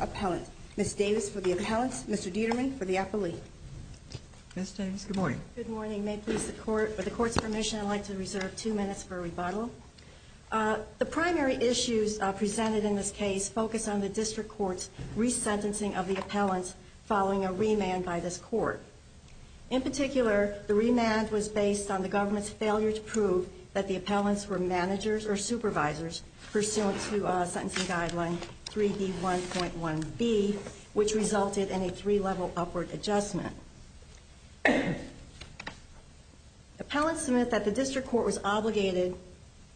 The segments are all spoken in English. Appellant. Ms. Davis for the appellants, Mr. Dieterman for the appellee. Ms. Davis, good morning. Good morning. May it please the Court, with the Court's permission I'd like to reserve two minutes for a rebuttal. The primary issues presented in this case focus on the District Court's resentencing of the appellants following a remand by this Court. In particular, the remand was based on the government's failure to prove that the appellants were managers or supervisors pursuant to Sentencing Guideline 3D1.1b, which resulted in a three-level upward adjustment. Appellants submit that the District Court was obligated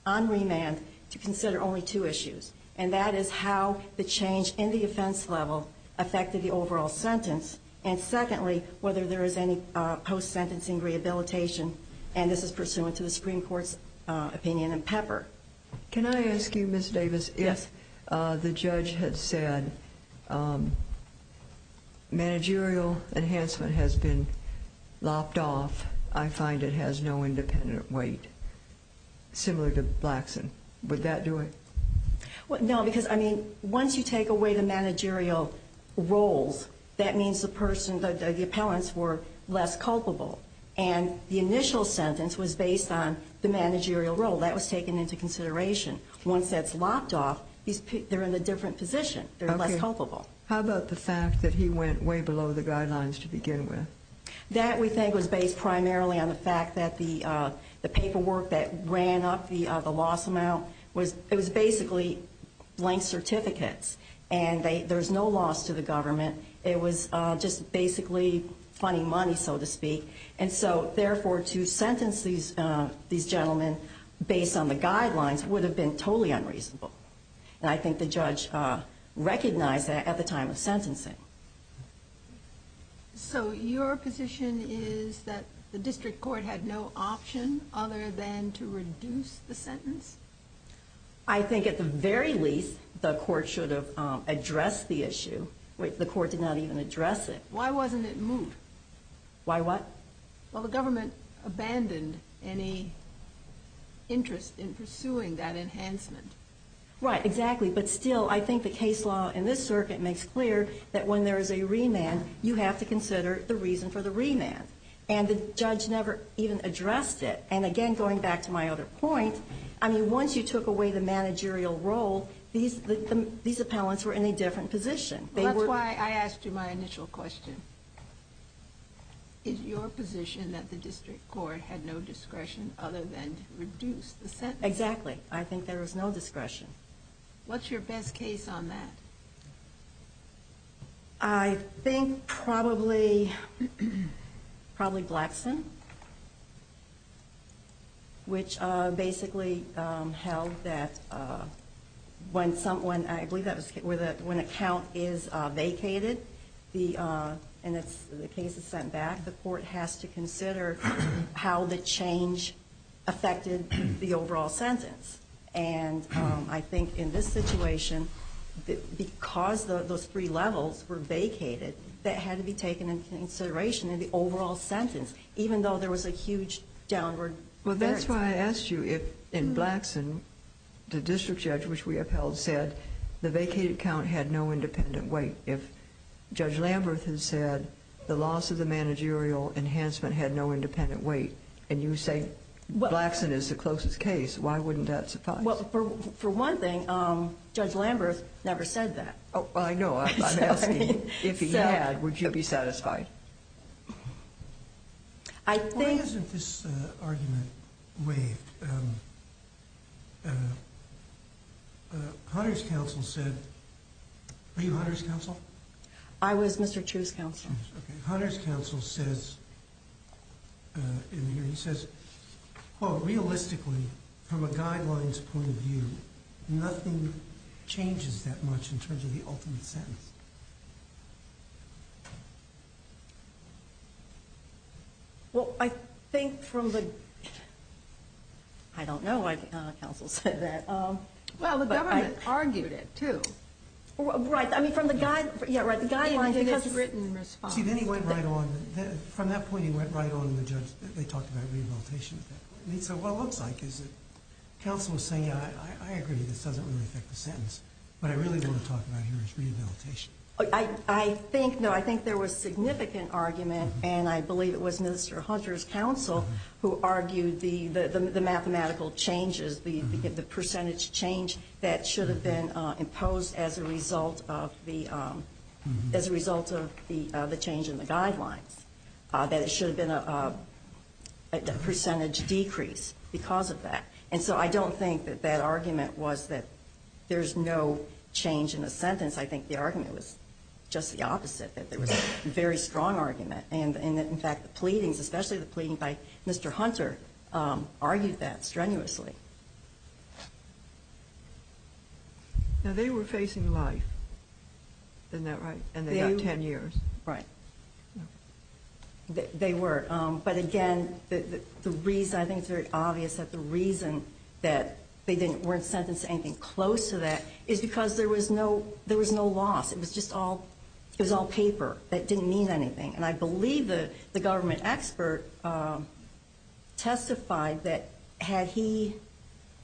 on remand to consider only two issues, and that is how the change in the offense level affected the overall sentence, and secondly, whether there is any post-sentencing rehabilitation, and this is pursuant to the Supreme Court's opinion in Pepper. Can I ask you, Ms. Davis, if the judge had said managerial enhancement has been lopped off, I find it has no independent weight, similar to Blackson, would that do it? No, because, I mean, once you take away the managerial roles, that means the person, the appellants were less culpable, and the initial sentence was based on the managerial role. That was taken into consideration. Once that's lopped off, they're in a different position. They're less culpable. How about the fact that he went way below the guidelines to begin with? That, we think, was based primarily on the fact that the paperwork that ran up the loss amount, it was basically blank certificates, and there's no loss to the government. It was just basically funny money, so to speak, and so, therefore, to sentence these gentlemen based on the guidelines would have been totally unreasonable, and I think the judge recognized that at the time of sentencing. So, your position is that the district court had no option other than to reduce the sentence? I think, at the very least, the court should have addressed the issue. The court did not even address it. Why wasn't it moved? Why what? Well, the government abandoned any interest in pursuing that enhancement. Right, exactly, but still, I think the case law in this circuit makes clear that when there is a remand, you have to consider the reason for the remand, and the judge never even addressed it, and again, going back to my other point, I mean, once you took away the managerial role, these appellants were in a different position. That's why I asked you my initial question. Is your position that the district court had no discretion other than to reduce the sentence? Exactly. I think there was no discretion. What's your best case on that? I think probably Blackson, which basically held that when someone, I believe that was, when a count is vacated and the case is sent back, the court has to consider how the change affected the overall sentence, and I think in this situation, because those three levels were vacated, that had to be taken into consideration in the overall sentence, even though there was a huge downward. Well, that's why I asked you if, in Blackson, the district judge, which we upheld, said the vacated count had no independent weight. If Judge Lamberth had said the loss of the managerial enhancement had no independent weight, and you say Blackson is the closest case, why wouldn't that suffice? Well, for one thing, Judge Lamberth never said that. Oh, I know. I'm asking, if he had, would you be satisfied? Why isn't this argument waived? Hunter's counsel said, were you Hunter's counsel? I was Mr. Chu's counsel. Hunter's counsel says, quote, realistically, from a guidelines point of view, nothing changes that much in terms of the ultimate sentence. Well, I think from the, I don't know why Hunter's counsel said that. Well, the government argued it, too. Well, right. I mean, from the guidelines. See, then he went right on. From that point, he went right on, and the judge, they talked about rehabilitation. So what it looks like is that counsel is saying, I agree, this doesn't really affect the sentence. What I really want to talk about here is rehabilitation. I think, no, I think there was significant argument, and I believe it was Mr. Hunter's counsel who argued the mathematical changes, the percentage change that should have been imposed as a result of the change in the guidelines, that it should have been a percentage decrease because of that. And so I don't think that that argument was that there's no change in a sentence. I think the argument was just the opposite, that there was a very strong argument, and that, in fact, the pleadings, especially the pleading by Mr. Hunter, argued that strenuously. Now, they were facing life. Isn't that right? And they got 10 years. Right. They were. But, again, the reason, I think it's very obvious that the reason that they weren't sentenced to anything close to that is because there was no loss. It was just all paper. That didn't mean anything. And I believe the government expert testified that had he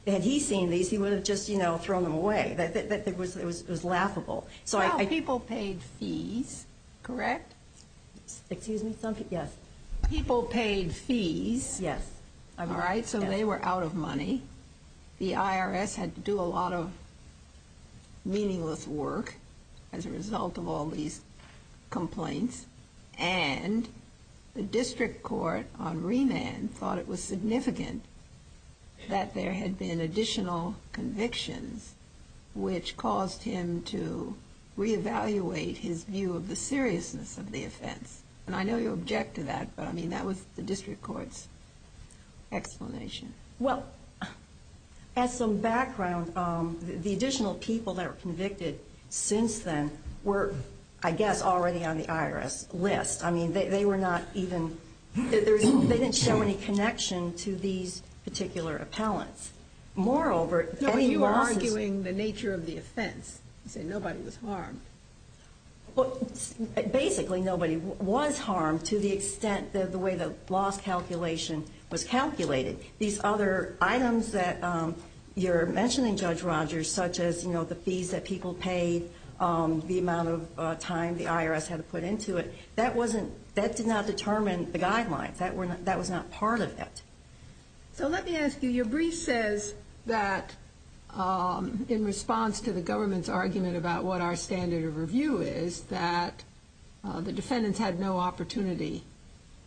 seen these, he would have just thrown them away. It was laughable. Well, people paid fees, correct? Excuse me? Yes. People paid fees. Yes. All right, so they were out of money. The IRS had to do a lot of meaningless work as a result of all these complaints, and the district court on remand thought it was significant that there had been additional convictions, which caused him to reevaluate his view of the seriousness of the offense. And I know you object to that, but, I mean, that was the district court's explanation. Well, as some background, the additional people that were convicted since then were, I guess, already on the IRS list. I mean, they were not even, they didn't show any connection to these particular appellants. Moreover, any losses- No, you are arguing the nature of the offense. You say nobody was harmed. Basically, nobody was harmed to the extent that the way the loss calculation was calculated. These other items that you're mentioning, Judge Rogers, such as, you know, the fees that people paid, the amount of time the IRS had to put into it, that did not determine the guidelines. That was not part of it. So let me ask you, your brief says that, in response to the government's argument about what our standard of review is, that the defendants had no opportunity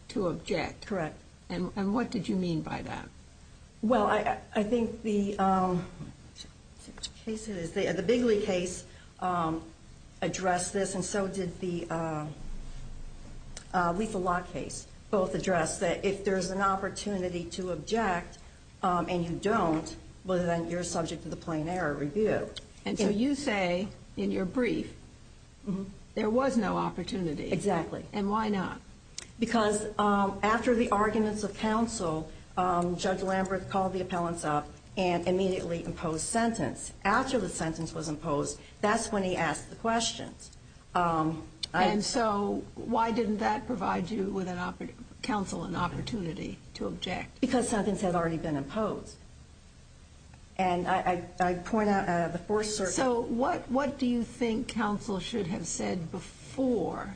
to object. Correct. And what did you mean by that? Well, I think the case is, the Bigley case addressed this, and so did the Lethal Lock case. Both addressed that if there's an opportunity to object and you don't, well then you're subject to the plain error review. And so you say, in your brief, there was no opportunity. Exactly. And why not? Because after the arguments of counsel, Judge Lambert called the appellants up and immediately imposed sentence. After the sentence was imposed, that's when he asked the questions. And so why didn't that provide you, counsel, an opportunity to object? Because sentence had already been imposed. And I point out the 40- So what do you think counsel should have said before?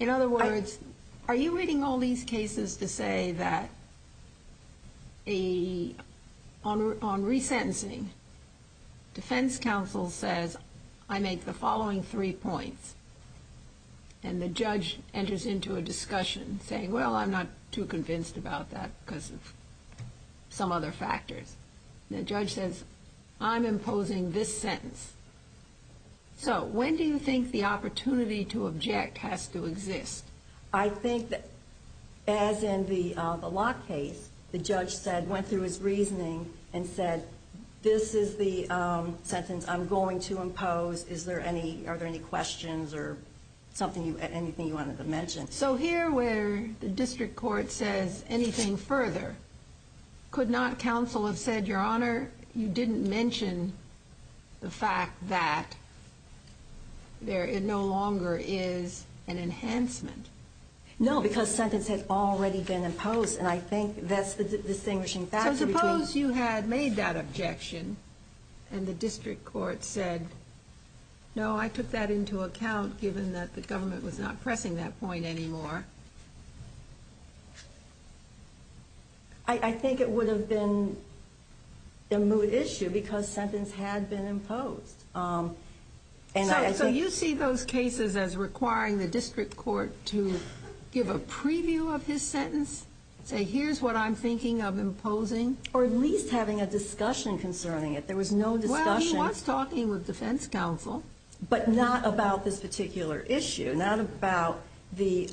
In other words, are you reading all these cases to say that on resentencing, defense counsel says, I make the following three points, and the judge enters into a discussion saying, well, I'm not too convinced about that because of some other factors. And the judge says, I'm imposing this sentence. So when do you think the opportunity to object has to exist? I think that as in the Lock case, the judge went through his reasoning and said, this is the sentence I'm going to impose. Are there any questions or anything you wanted to mention? So here where the district court says anything further, could not counsel have said, Your Honor, you didn't mention the fact that there no longer is an enhancement? No, because sentence had already been imposed. And I think that's the distinguishing factor. So suppose you had made that objection and the district court said, no, I took that into account given that the government was not pressing that point anymore. I think it would have been a moot issue because sentence had been imposed. So you see those cases as requiring the district court to give a preview of his sentence, say here's what I'm thinking of imposing? Or at least having a discussion concerning it. There was no discussion. Well, he was talking with defense counsel. But not about this particular issue, not about the.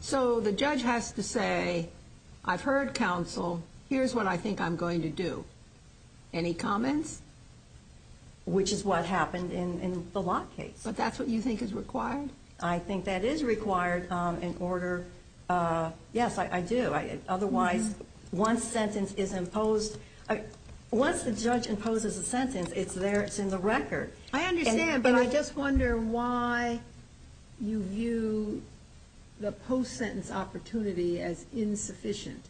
So the judge has to say, I've heard counsel. Here's what I think I'm going to do. Any comments? Which is what happened in the lot case. But that's what you think is required? I think that is required in order. Yes, I do. Otherwise, one sentence is imposed. Once the judge imposes a sentence, it's there, it's in the record. I understand, but I just wonder why you view the post-sentence opportunity as insufficient.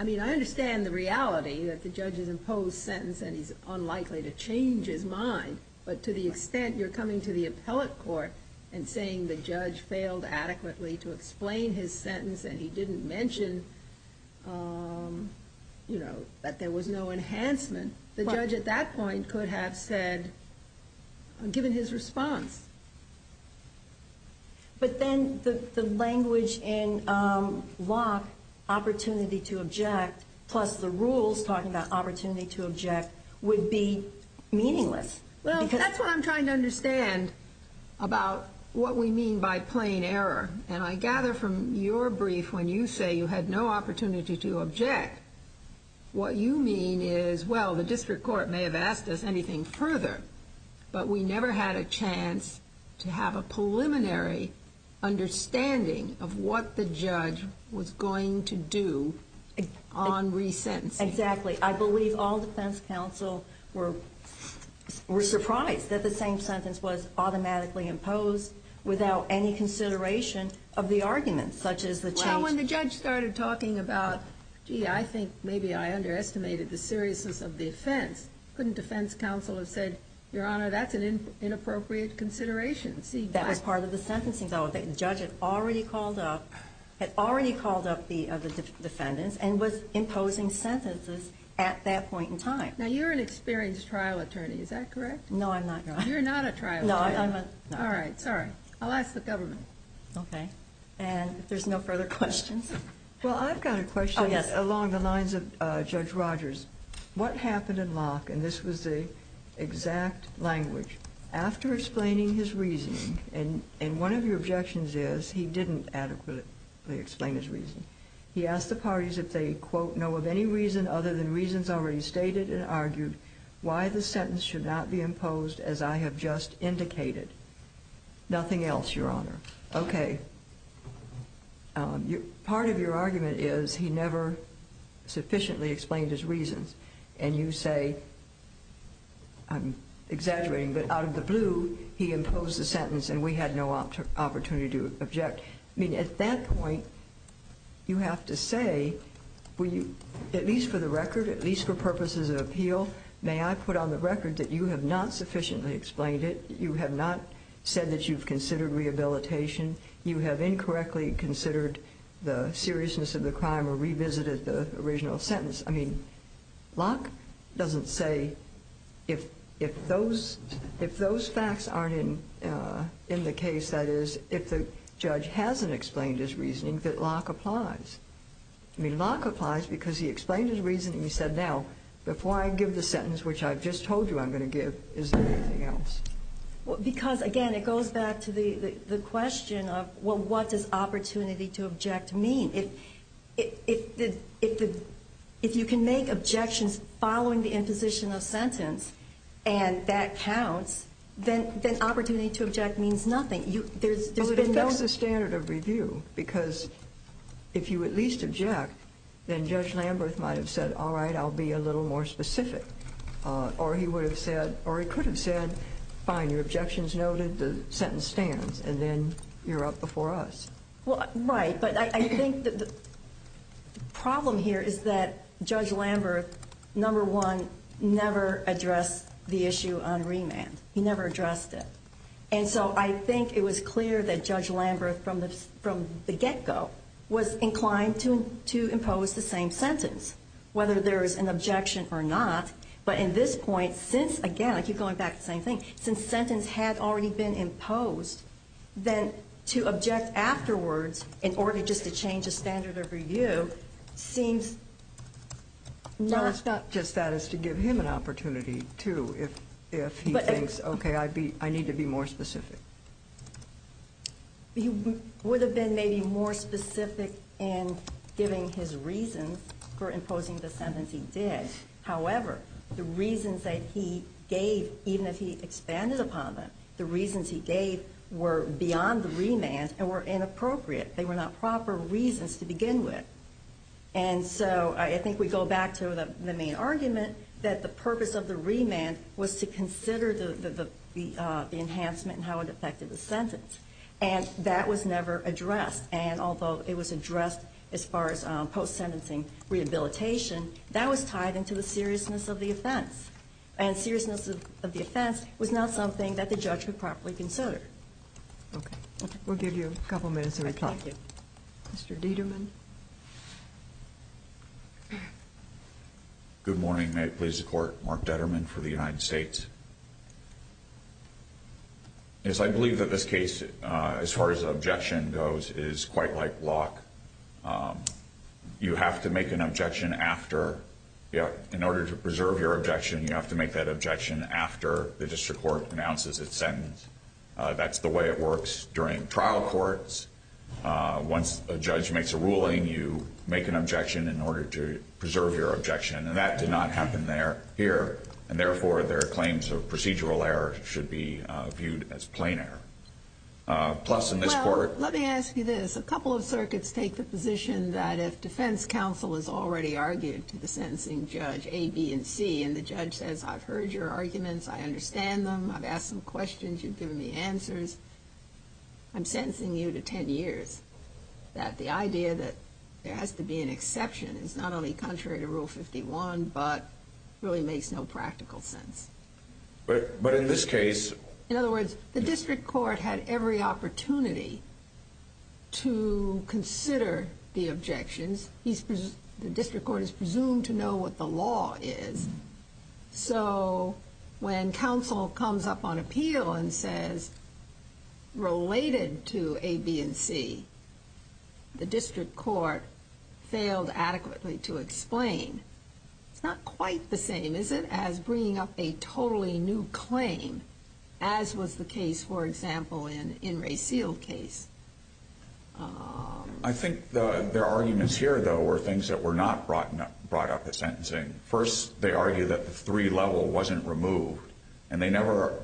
I mean, I understand the reality that the judge has imposed sentence and he's unlikely to change his mind. But to the extent you're coming to the appellate court and saying the judge failed adequately to explain his sentence and he didn't mention, you know, that there was no enhancement, the judge at that point could have said, given his response. But then the language in Locke, opportunity to object, plus the rules talking about opportunity to object, would be meaningless. Well, that's what I'm trying to understand about what we mean by plain error. And I gather from your brief, when you say you had no opportunity to object, what you mean is, well, the district court may have asked us anything further, but we never had a chance to have a preliminary understanding of what the judge was going to do on resentencing. Exactly. I believe all defense counsel were surprised that the same sentence was automatically imposed without any consideration of the arguments, such as the change. Now, when the judge started talking about, gee, I think maybe I underestimated the seriousness of the offense, couldn't defense counsel have said, Your Honor, that's an inappropriate consideration? That was part of the sentencing. The judge had already called up the defendants and was imposing sentences at that point in time. Now, you're an experienced trial attorney. Is that correct? No, I'm not. You're not a trial attorney. No, I'm not. All right. Sorry. I'll ask the government. Okay. And if there's no further questions? Well, I've got a question along the lines of Judge Rogers. What happened in Locke, and this was the exact language, after explaining his reasoning, and one of your objections is he didn't adequately explain his reason, he asked the parties if they, quote, know of any reason other than reasons already stated and argued why the sentence should not be imposed as I have just indicated. Nothing else, Your Honor. Okay. Part of your argument is he never sufficiently explained his reasons, and you say, I'm exaggerating, but out of the blue he imposed the sentence and we had no opportunity to object. I mean, at that point, you have to say, at least for the record, at least for purposes of appeal, may I put on the record that you have not sufficiently explained it, you have not said that you've considered rehabilitation, you have incorrectly considered the seriousness of the crime or revisited the original sentence. I mean, Locke doesn't say if those facts aren't in the case, that is, if the judge hasn't explained his reasoning, that Locke applies. I mean, Locke applies because he explained his reasoning. He said, now, before I give the sentence, which I've just told you I'm going to give, is there anything else? Because, again, it goes back to the question of, well, what does opportunity to object mean? If you can make objections following the imposition of sentence and that counts, then opportunity to object means nothing. Well, that's the standard of review because if you at least object, then Judge Lamberth might have said, all right, I'll be a little more specific, or he would have said, or he could have said, fine, your objection is noted, the sentence stands, and then you're up before us. Well, right, but I think the problem here is that Judge Lamberth, number one, never addressed the issue on remand. He never addressed it. And so I think it was clear that Judge Lamberth from the get-go was inclined to impose the same sentence. Whether there is an objection or not, but in this point, since, again, I keep going back to the same thing, since sentence had already been imposed, then to object afterwards in order just to change a standard of review seems not. No, it's not just that. It's to give him an opportunity, too, if he thinks, okay, I need to be more specific. He would have been maybe more specific in giving his reasons for imposing the sentence he did. However, the reasons that he gave, even if he expanded upon them, the reasons he gave were beyond the remand and were inappropriate. They were not proper reasons to begin with. And so I think we go back to the main argument that the purpose of the remand was to consider the enhancement and how it affected the sentence. And that was never addressed. And although it was addressed as far as post-sentencing rehabilitation, that was tied into the seriousness of the offense. And seriousness of the offense was not something that the judge would properly consider. Okay. We'll give you a couple minutes to reply. Thank you. Mr. Dieterman. Good morning. May it please the Court, Mark Dieterman for the United States. Yes, I believe that this case, as far as the objection goes, is quite like Locke. You have to make an objection after. In order to preserve your objection, you have to make that objection after the district court pronounces its sentence. That's the way it works during trial courts. Once a judge makes a ruling, you make an objection in order to preserve your objection. And that did not happen here. And, therefore, their claims of procedural error should be viewed as plain error. Plus, in this court ---- Well, let me ask you this. A couple of circuits take the position that if defense counsel has already argued to the sentencing judge, A, B, and C, and the judge says, I've heard your arguments, I understand them, I've asked some questions, you've given me answers, I'm sentencing you to 10 years, that the idea that there has to be an exception is not only contrary to Rule 51, but really makes no practical sense. But in this case ---- In other words, the district court had every opportunity to consider the objections. The district court is presumed to know what the law is. So, when counsel comes up on appeal and says, related to A, B, and C, the district court failed adequately to explain, it's not quite the same, is it, as bringing up a totally new claim, as was the case, for example, in Ray Seal's case. I think their arguments here, though, were things that were not brought up at sentencing. First, they argue that the three-level wasn't removed, and they never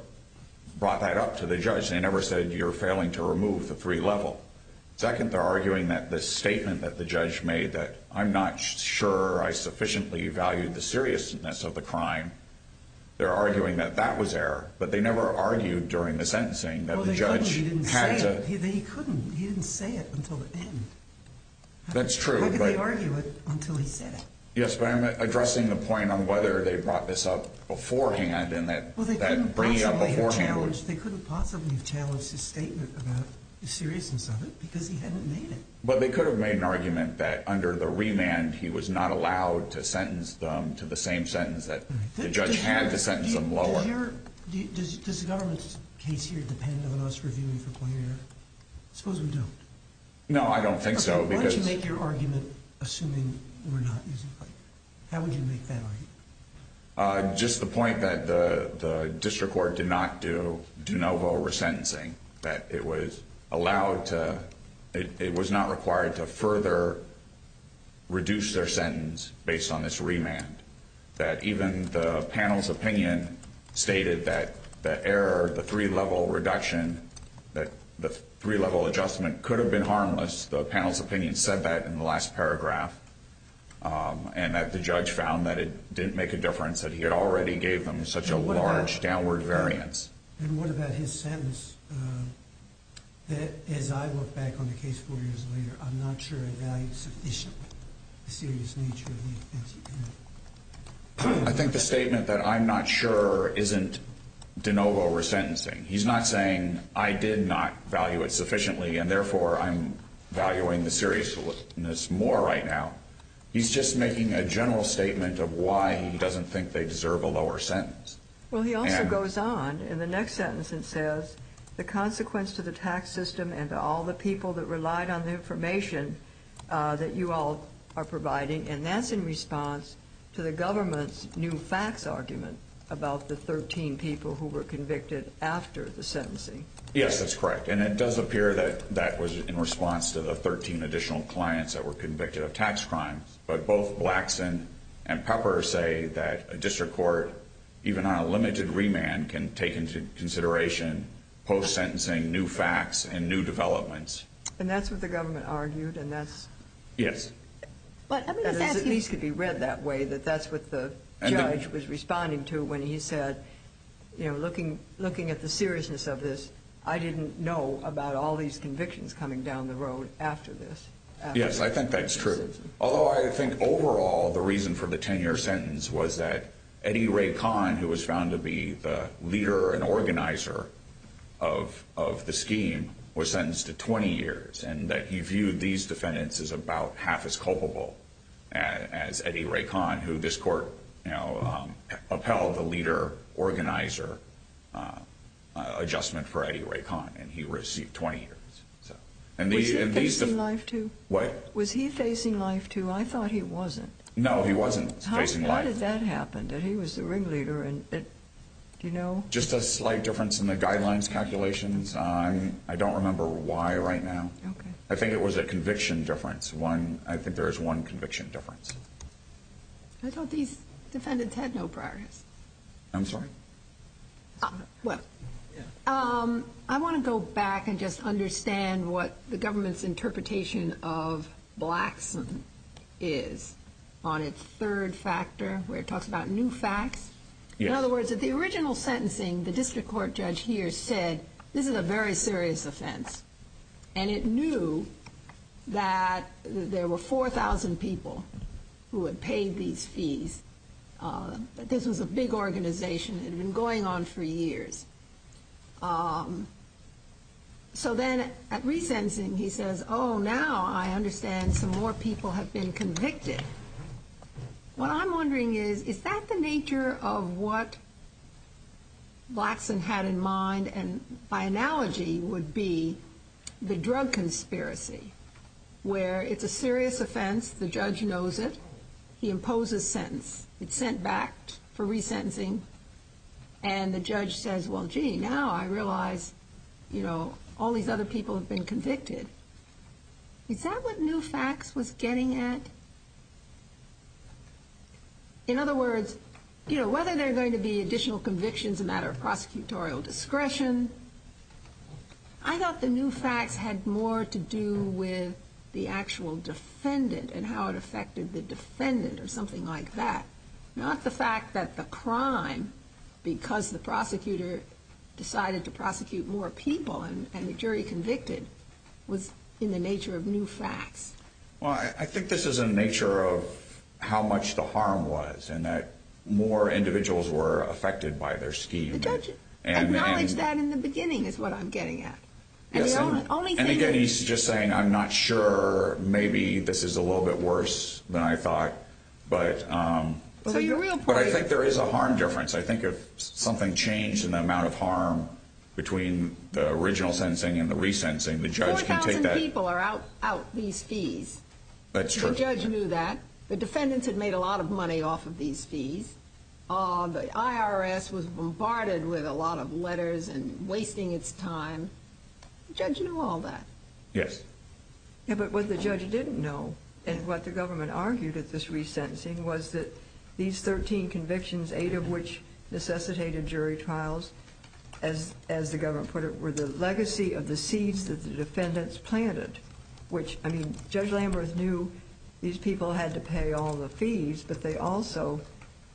brought that up to the judge. They never said, you're failing to remove the three-level. Second, they're arguing that the statement that the judge made, that I'm not sure I sufficiently valued the seriousness of the crime, they're arguing that that was error. But they never argued during the sentencing that the judge had to ---- Well, they couldn't, he didn't say it. He couldn't, he didn't say it until the end. That's true, but ---- How could they argue it until he said it? Yes, but I'm addressing the point on whether they brought this up beforehand, and that bringing it up beforehand ---- Well, they couldn't possibly have challenged, they couldn't possibly have challenged his statement about the seriousness of it because he hadn't made it. But they could have made an argument that under the remand he was not allowed to sentence them to the same sentence that the judge had to sentence them lower. Does the government's case here depend on us reviewing for point of error? I suppose we don't. No, I don't think so because ---- How would you make that argument? Just the point that the district court did not do de novo resentencing, that it was allowed to ---- it was not required to further reduce their sentence based on this remand, that even the panel's opinion stated that the error, the three-level reduction, that the three-level adjustment could have been harmless. The panel's opinion said that in the last paragraph, and that the judge found that it didn't make a difference, that he had already gave them such a large downward variance. And what about his sentence that, as I look back on the case four years later, I'm not sure it valued sufficiently the serious nature of the offense he committed? I think the statement that I'm not sure isn't de novo resentencing. He's not saying I did not value it sufficiently, and therefore I'm valuing the seriousness more right now. He's just making a general statement of why he doesn't think they deserve a lower sentence. Well, he also goes on in the next sentence and says the consequence to the tax system and to all the people that relied on the information that you all are providing, and that's in response to the government's new fax argument about the 13 people who were convicted after the sentencing. Yes, that's correct. And it does appear that that was in response to the 13 additional clients that were convicted of tax crimes. But both Blackson and Pepper say that a district court, even on a limited remand, can take into consideration post-sentencing new facts and new developments. And that's what the government argued, and that's at least could be read that way, that that's what the judge was responding to when he said, you know, looking at the seriousness of this, I didn't know about all these convictions coming down the road after this. Yes, I think that's true, although I think overall the reason for the 10-year sentence was that Eddie Ray Kahn, who was found to be the leader and organizer of the scheme, was sentenced to 20 years and that he viewed these defendants as about half as culpable as Eddie Ray Kahn, who this court upheld the leader-organizer adjustment for Eddie Ray Kahn, and he received 20 years. Was he facing life, too? What? Was he facing life, too? I thought he wasn't. No, he wasn't facing life. How did that happen, that he was the ringleader? Just a slight difference in the guidelines calculations. I don't remember why right now. I think it was a conviction difference. I think there is one conviction difference. I thought these defendants had no priorities. I'm sorry? Well, I want to go back and just understand what the government's interpretation of Blackson is on its third factor, where it talks about new facts. In other words, at the original sentencing, the district court judge here said, this is a very serious offense, and it knew that there were 4,000 people who had paid these fees. This was a big organization. It had been going on for years. So then at re-sensing, he says, oh, now I understand some more people have been convicted. What I'm wondering is, is that the nature of what Blackson had in mind, and by analogy would be the drug conspiracy, where it's a serious offense. The judge knows it. He imposes sentence. It's sent back for re-sentencing. And the judge says, well, gee, now I realize all these other people have been convicted. Is that what new facts was getting at? In other words, whether there are going to be additional convictions, a matter of prosecutorial discretion, I thought the new facts had more to do with the actual defendant and how it affected the defendant or something like that, not the fact that the crime, because the prosecutor decided to prosecute more people and the jury convicted, was in the nature of new facts. Well, I think this is in the nature of how much the harm was and that more individuals were affected by their scheme. The judge acknowledged that in the beginning is what I'm getting at. Yes, and again, he's just saying, I'm not sure. Maybe this is a little bit worse than I thought. But I think there is a harm difference. I think if something changed in the amount of harm between the original sentencing and the re-sentencing, the judge can take that. Four thousand people are out these fees. That's true. The judge knew that. The defendants had made a lot of money off of these fees. The IRS was bombarded with a lot of letters and wasting its time. The judge knew all that. Yes. Yeah, but what the judge didn't know and what the government argued at this re-sentencing was that these 13 convictions, eight of which necessitated jury trials, as the government put it, were the legacy of the seeds that the defendants planted, which, I mean, Judge Lamberth knew these people had to pay all the fees, but they also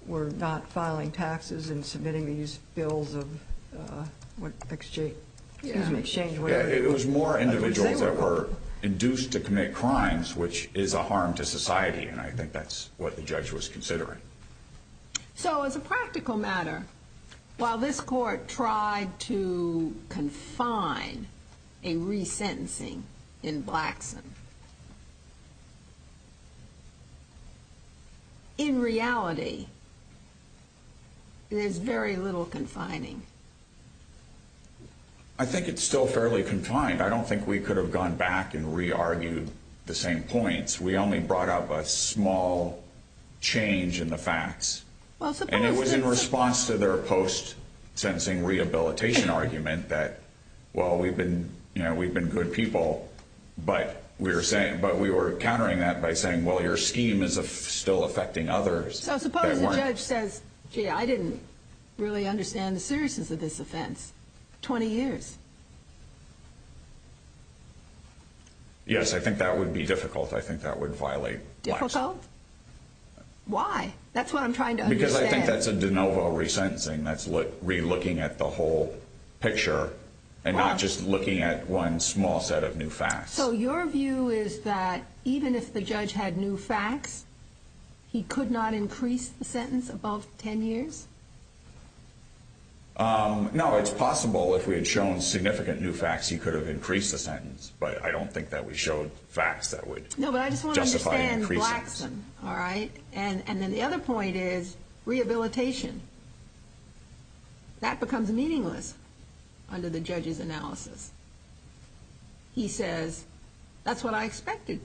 were not filing taxes and submitting these bills of exchange. It was more individuals that were induced to commit crimes, which is a harm to society, and I think that's what the judge was considering. So as a practical matter, while this court tried to confine a re-sentencing in Blackson, in reality there's very little confining. I think it's still fairly confined. I don't think we could have gone back and re-argued the same points. We only brought up a small change in the facts. And it was in response to their post-sentencing rehabilitation argument that, well, we've been good people, but we were countering that by saying, well, your scheme is still affecting others. So suppose the judge says, gee, I didn't really understand the seriousness of this offense. 20 years. Yes, I think that would be difficult. I think that would violate Blackson. Difficult? Why? That's what I'm trying to understand. Because I think that's a de novo re-sentencing. That's re-looking at the whole picture and not just looking at one small set of new facts. So your view is that even if the judge had new facts, he could not increase the sentence above 10 years? No, it's possible. If we had shown significant new facts, he could have increased the sentence. But I don't think that we showed facts that would justify increasing. No, but I just want to understand Blackson, all right? And then the other point is rehabilitation. That becomes meaningless under the judge's analysis. He says, that's what I expected.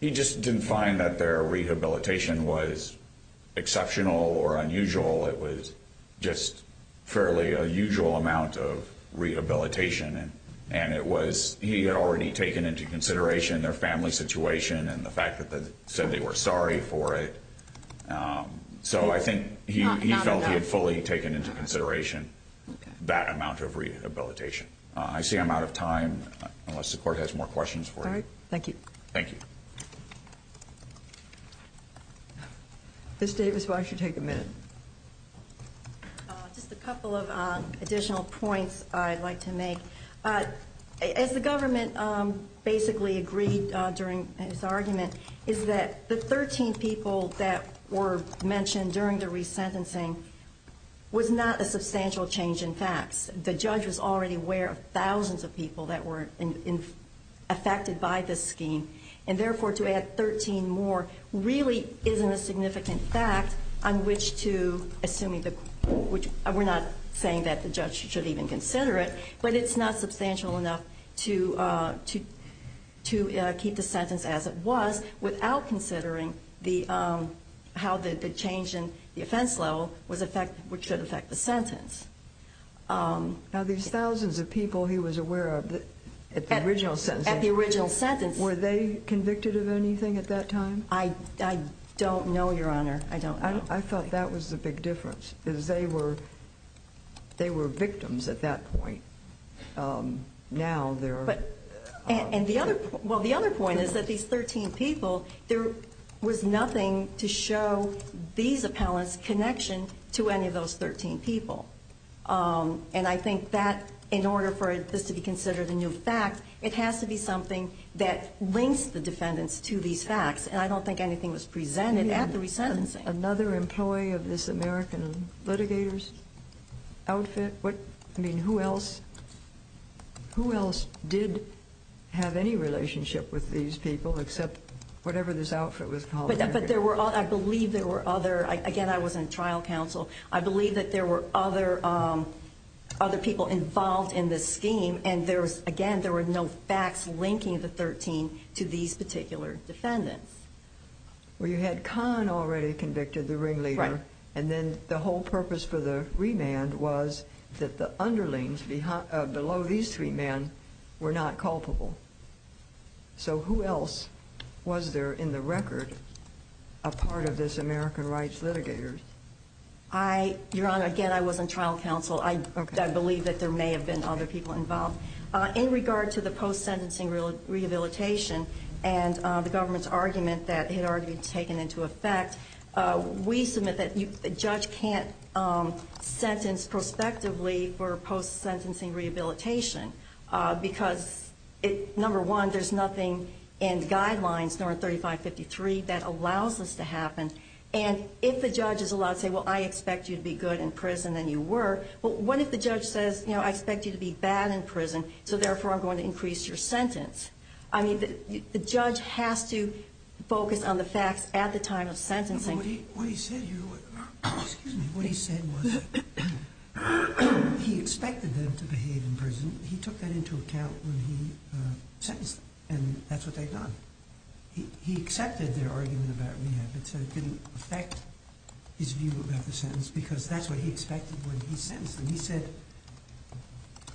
He just didn't find that their rehabilitation was exceptional or unusual. It was just fairly a usual amount of rehabilitation. And he had already taken into consideration their family situation and the fact that they said they were sorry for it. So I think he felt he had fully taken into consideration that amount of rehabilitation. I see I'm out of time, unless the Court has more questions for you. All right, thank you. Thank you. Ms. Davis, why don't you take a minute? Just a couple of additional points I'd like to make. As the government basically agreed during this argument, is that the 13 people that were mentioned during the resentencing was not a substantial change in facts. The judge was already aware of thousands of people that were affected by this scheme. And therefore, to add 13 more really isn't a significant fact on which to, assuming the Court, which we're not saying that the judge should even consider it, but it's not substantial enough to keep the sentence as it was without considering how the change in the offense level should affect the sentence. Now, these thousands of people he was aware of at the original sentencing, were they convicted of anything at that time? I don't know, Your Honor. I don't know. I thought that was the big difference, is they were victims at that point. Now they're... Well, the other point is that these 13 people, there was nothing to show these appellants' connection to any of those 13 people. And I think that in order for this to be considered a new fact, it has to be something that links the defendants to these facts. And I don't think anything was presented at the resentencing. Another employee of this American Litigator's outfit? I mean, who else did have any relationship with these people except whatever this outfit was called? I believe there were other. Again, I was in trial counsel. I believe that there were other people involved in this scheme, and, again, there were no facts linking the 13 to these particular defendants. Well, you had Kahn already convicted, the ringleader. Right. And then the whole purpose for the remand was that the underlings below these three men were not culpable. So who else was there in the record a part of this American Rights Litigator? Your Honor, again, I was in trial counsel. I believe that there may have been other people involved. In regard to the post-sentencing rehabilitation and the government's argument that it had already been taken into effect, we submit that the judge can't sentence prospectively for post-sentencing rehabilitation because, number one, there's nothing in guidelines, nor in 3553, that allows this to happen. And if the judge is allowed to say, well, I expect you to be good in prison, then you were. But what if the judge says, you know, I expect you to be bad in prison, so therefore I'm going to increase your sentence? I mean, the judge has to focus on the facts at the time of sentencing. What he said was he expected them to behave in prison. He took that into account when he sentenced them, and that's what they've done. He accepted their argument about rehab. It didn't affect his view about the sentence because that's what he expected when he sentenced them. He said,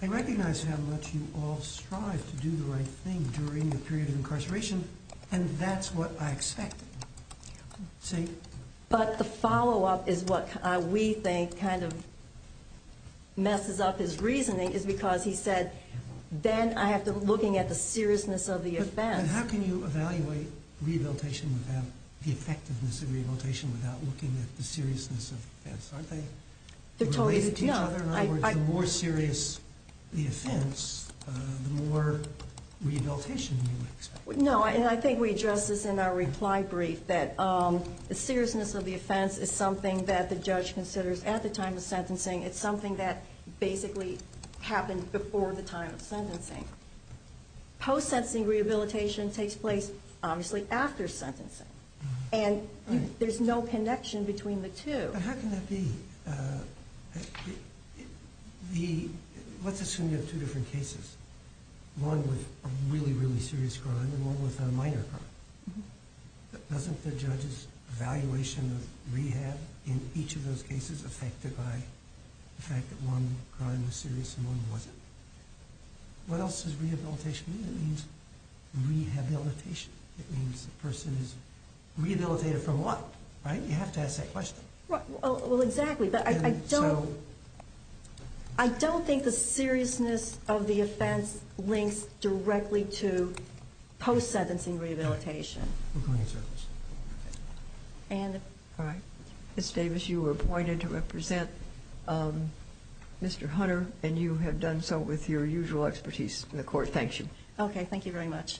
I recognize how much you all strive to do the right thing during the period of incarceration, and that's what I expect. But the follow-up is what we think kind of messes up his reasoning, is because he said, then I have to look at the seriousness of the offense. But how can you evaluate the effectiveness of rehabilitation without looking at the seriousness of the offense? Aren't they related to each other? In other words, the more serious the offense, the more rehabilitation you would expect. No, and I think we addressed this in our reply brief, that the seriousness of the offense is something that the judge considers at the time of sentencing. It's something that basically happened before the time of sentencing. Post-sentencing rehabilitation takes place, obviously, after sentencing, and there's no connection between the two. But how can that be? Let's assume you have two different cases, one with a really, really serious crime and one with a minor crime. Doesn't the judge's evaluation of rehab in each of those cases affect it by the fact that one crime was serious and one wasn't? What else does rehabilitation mean? It means rehabilitation. It means the person is rehabilitated from what? You have to ask that question. Exactly, but I don't think the seriousness of the offense links directly to post-sentencing rehabilitation. Ms. Davis, you were appointed to represent Mr. Hunter, and you have done so with your usual expertise. The court thanks you. Okay, thank you very much.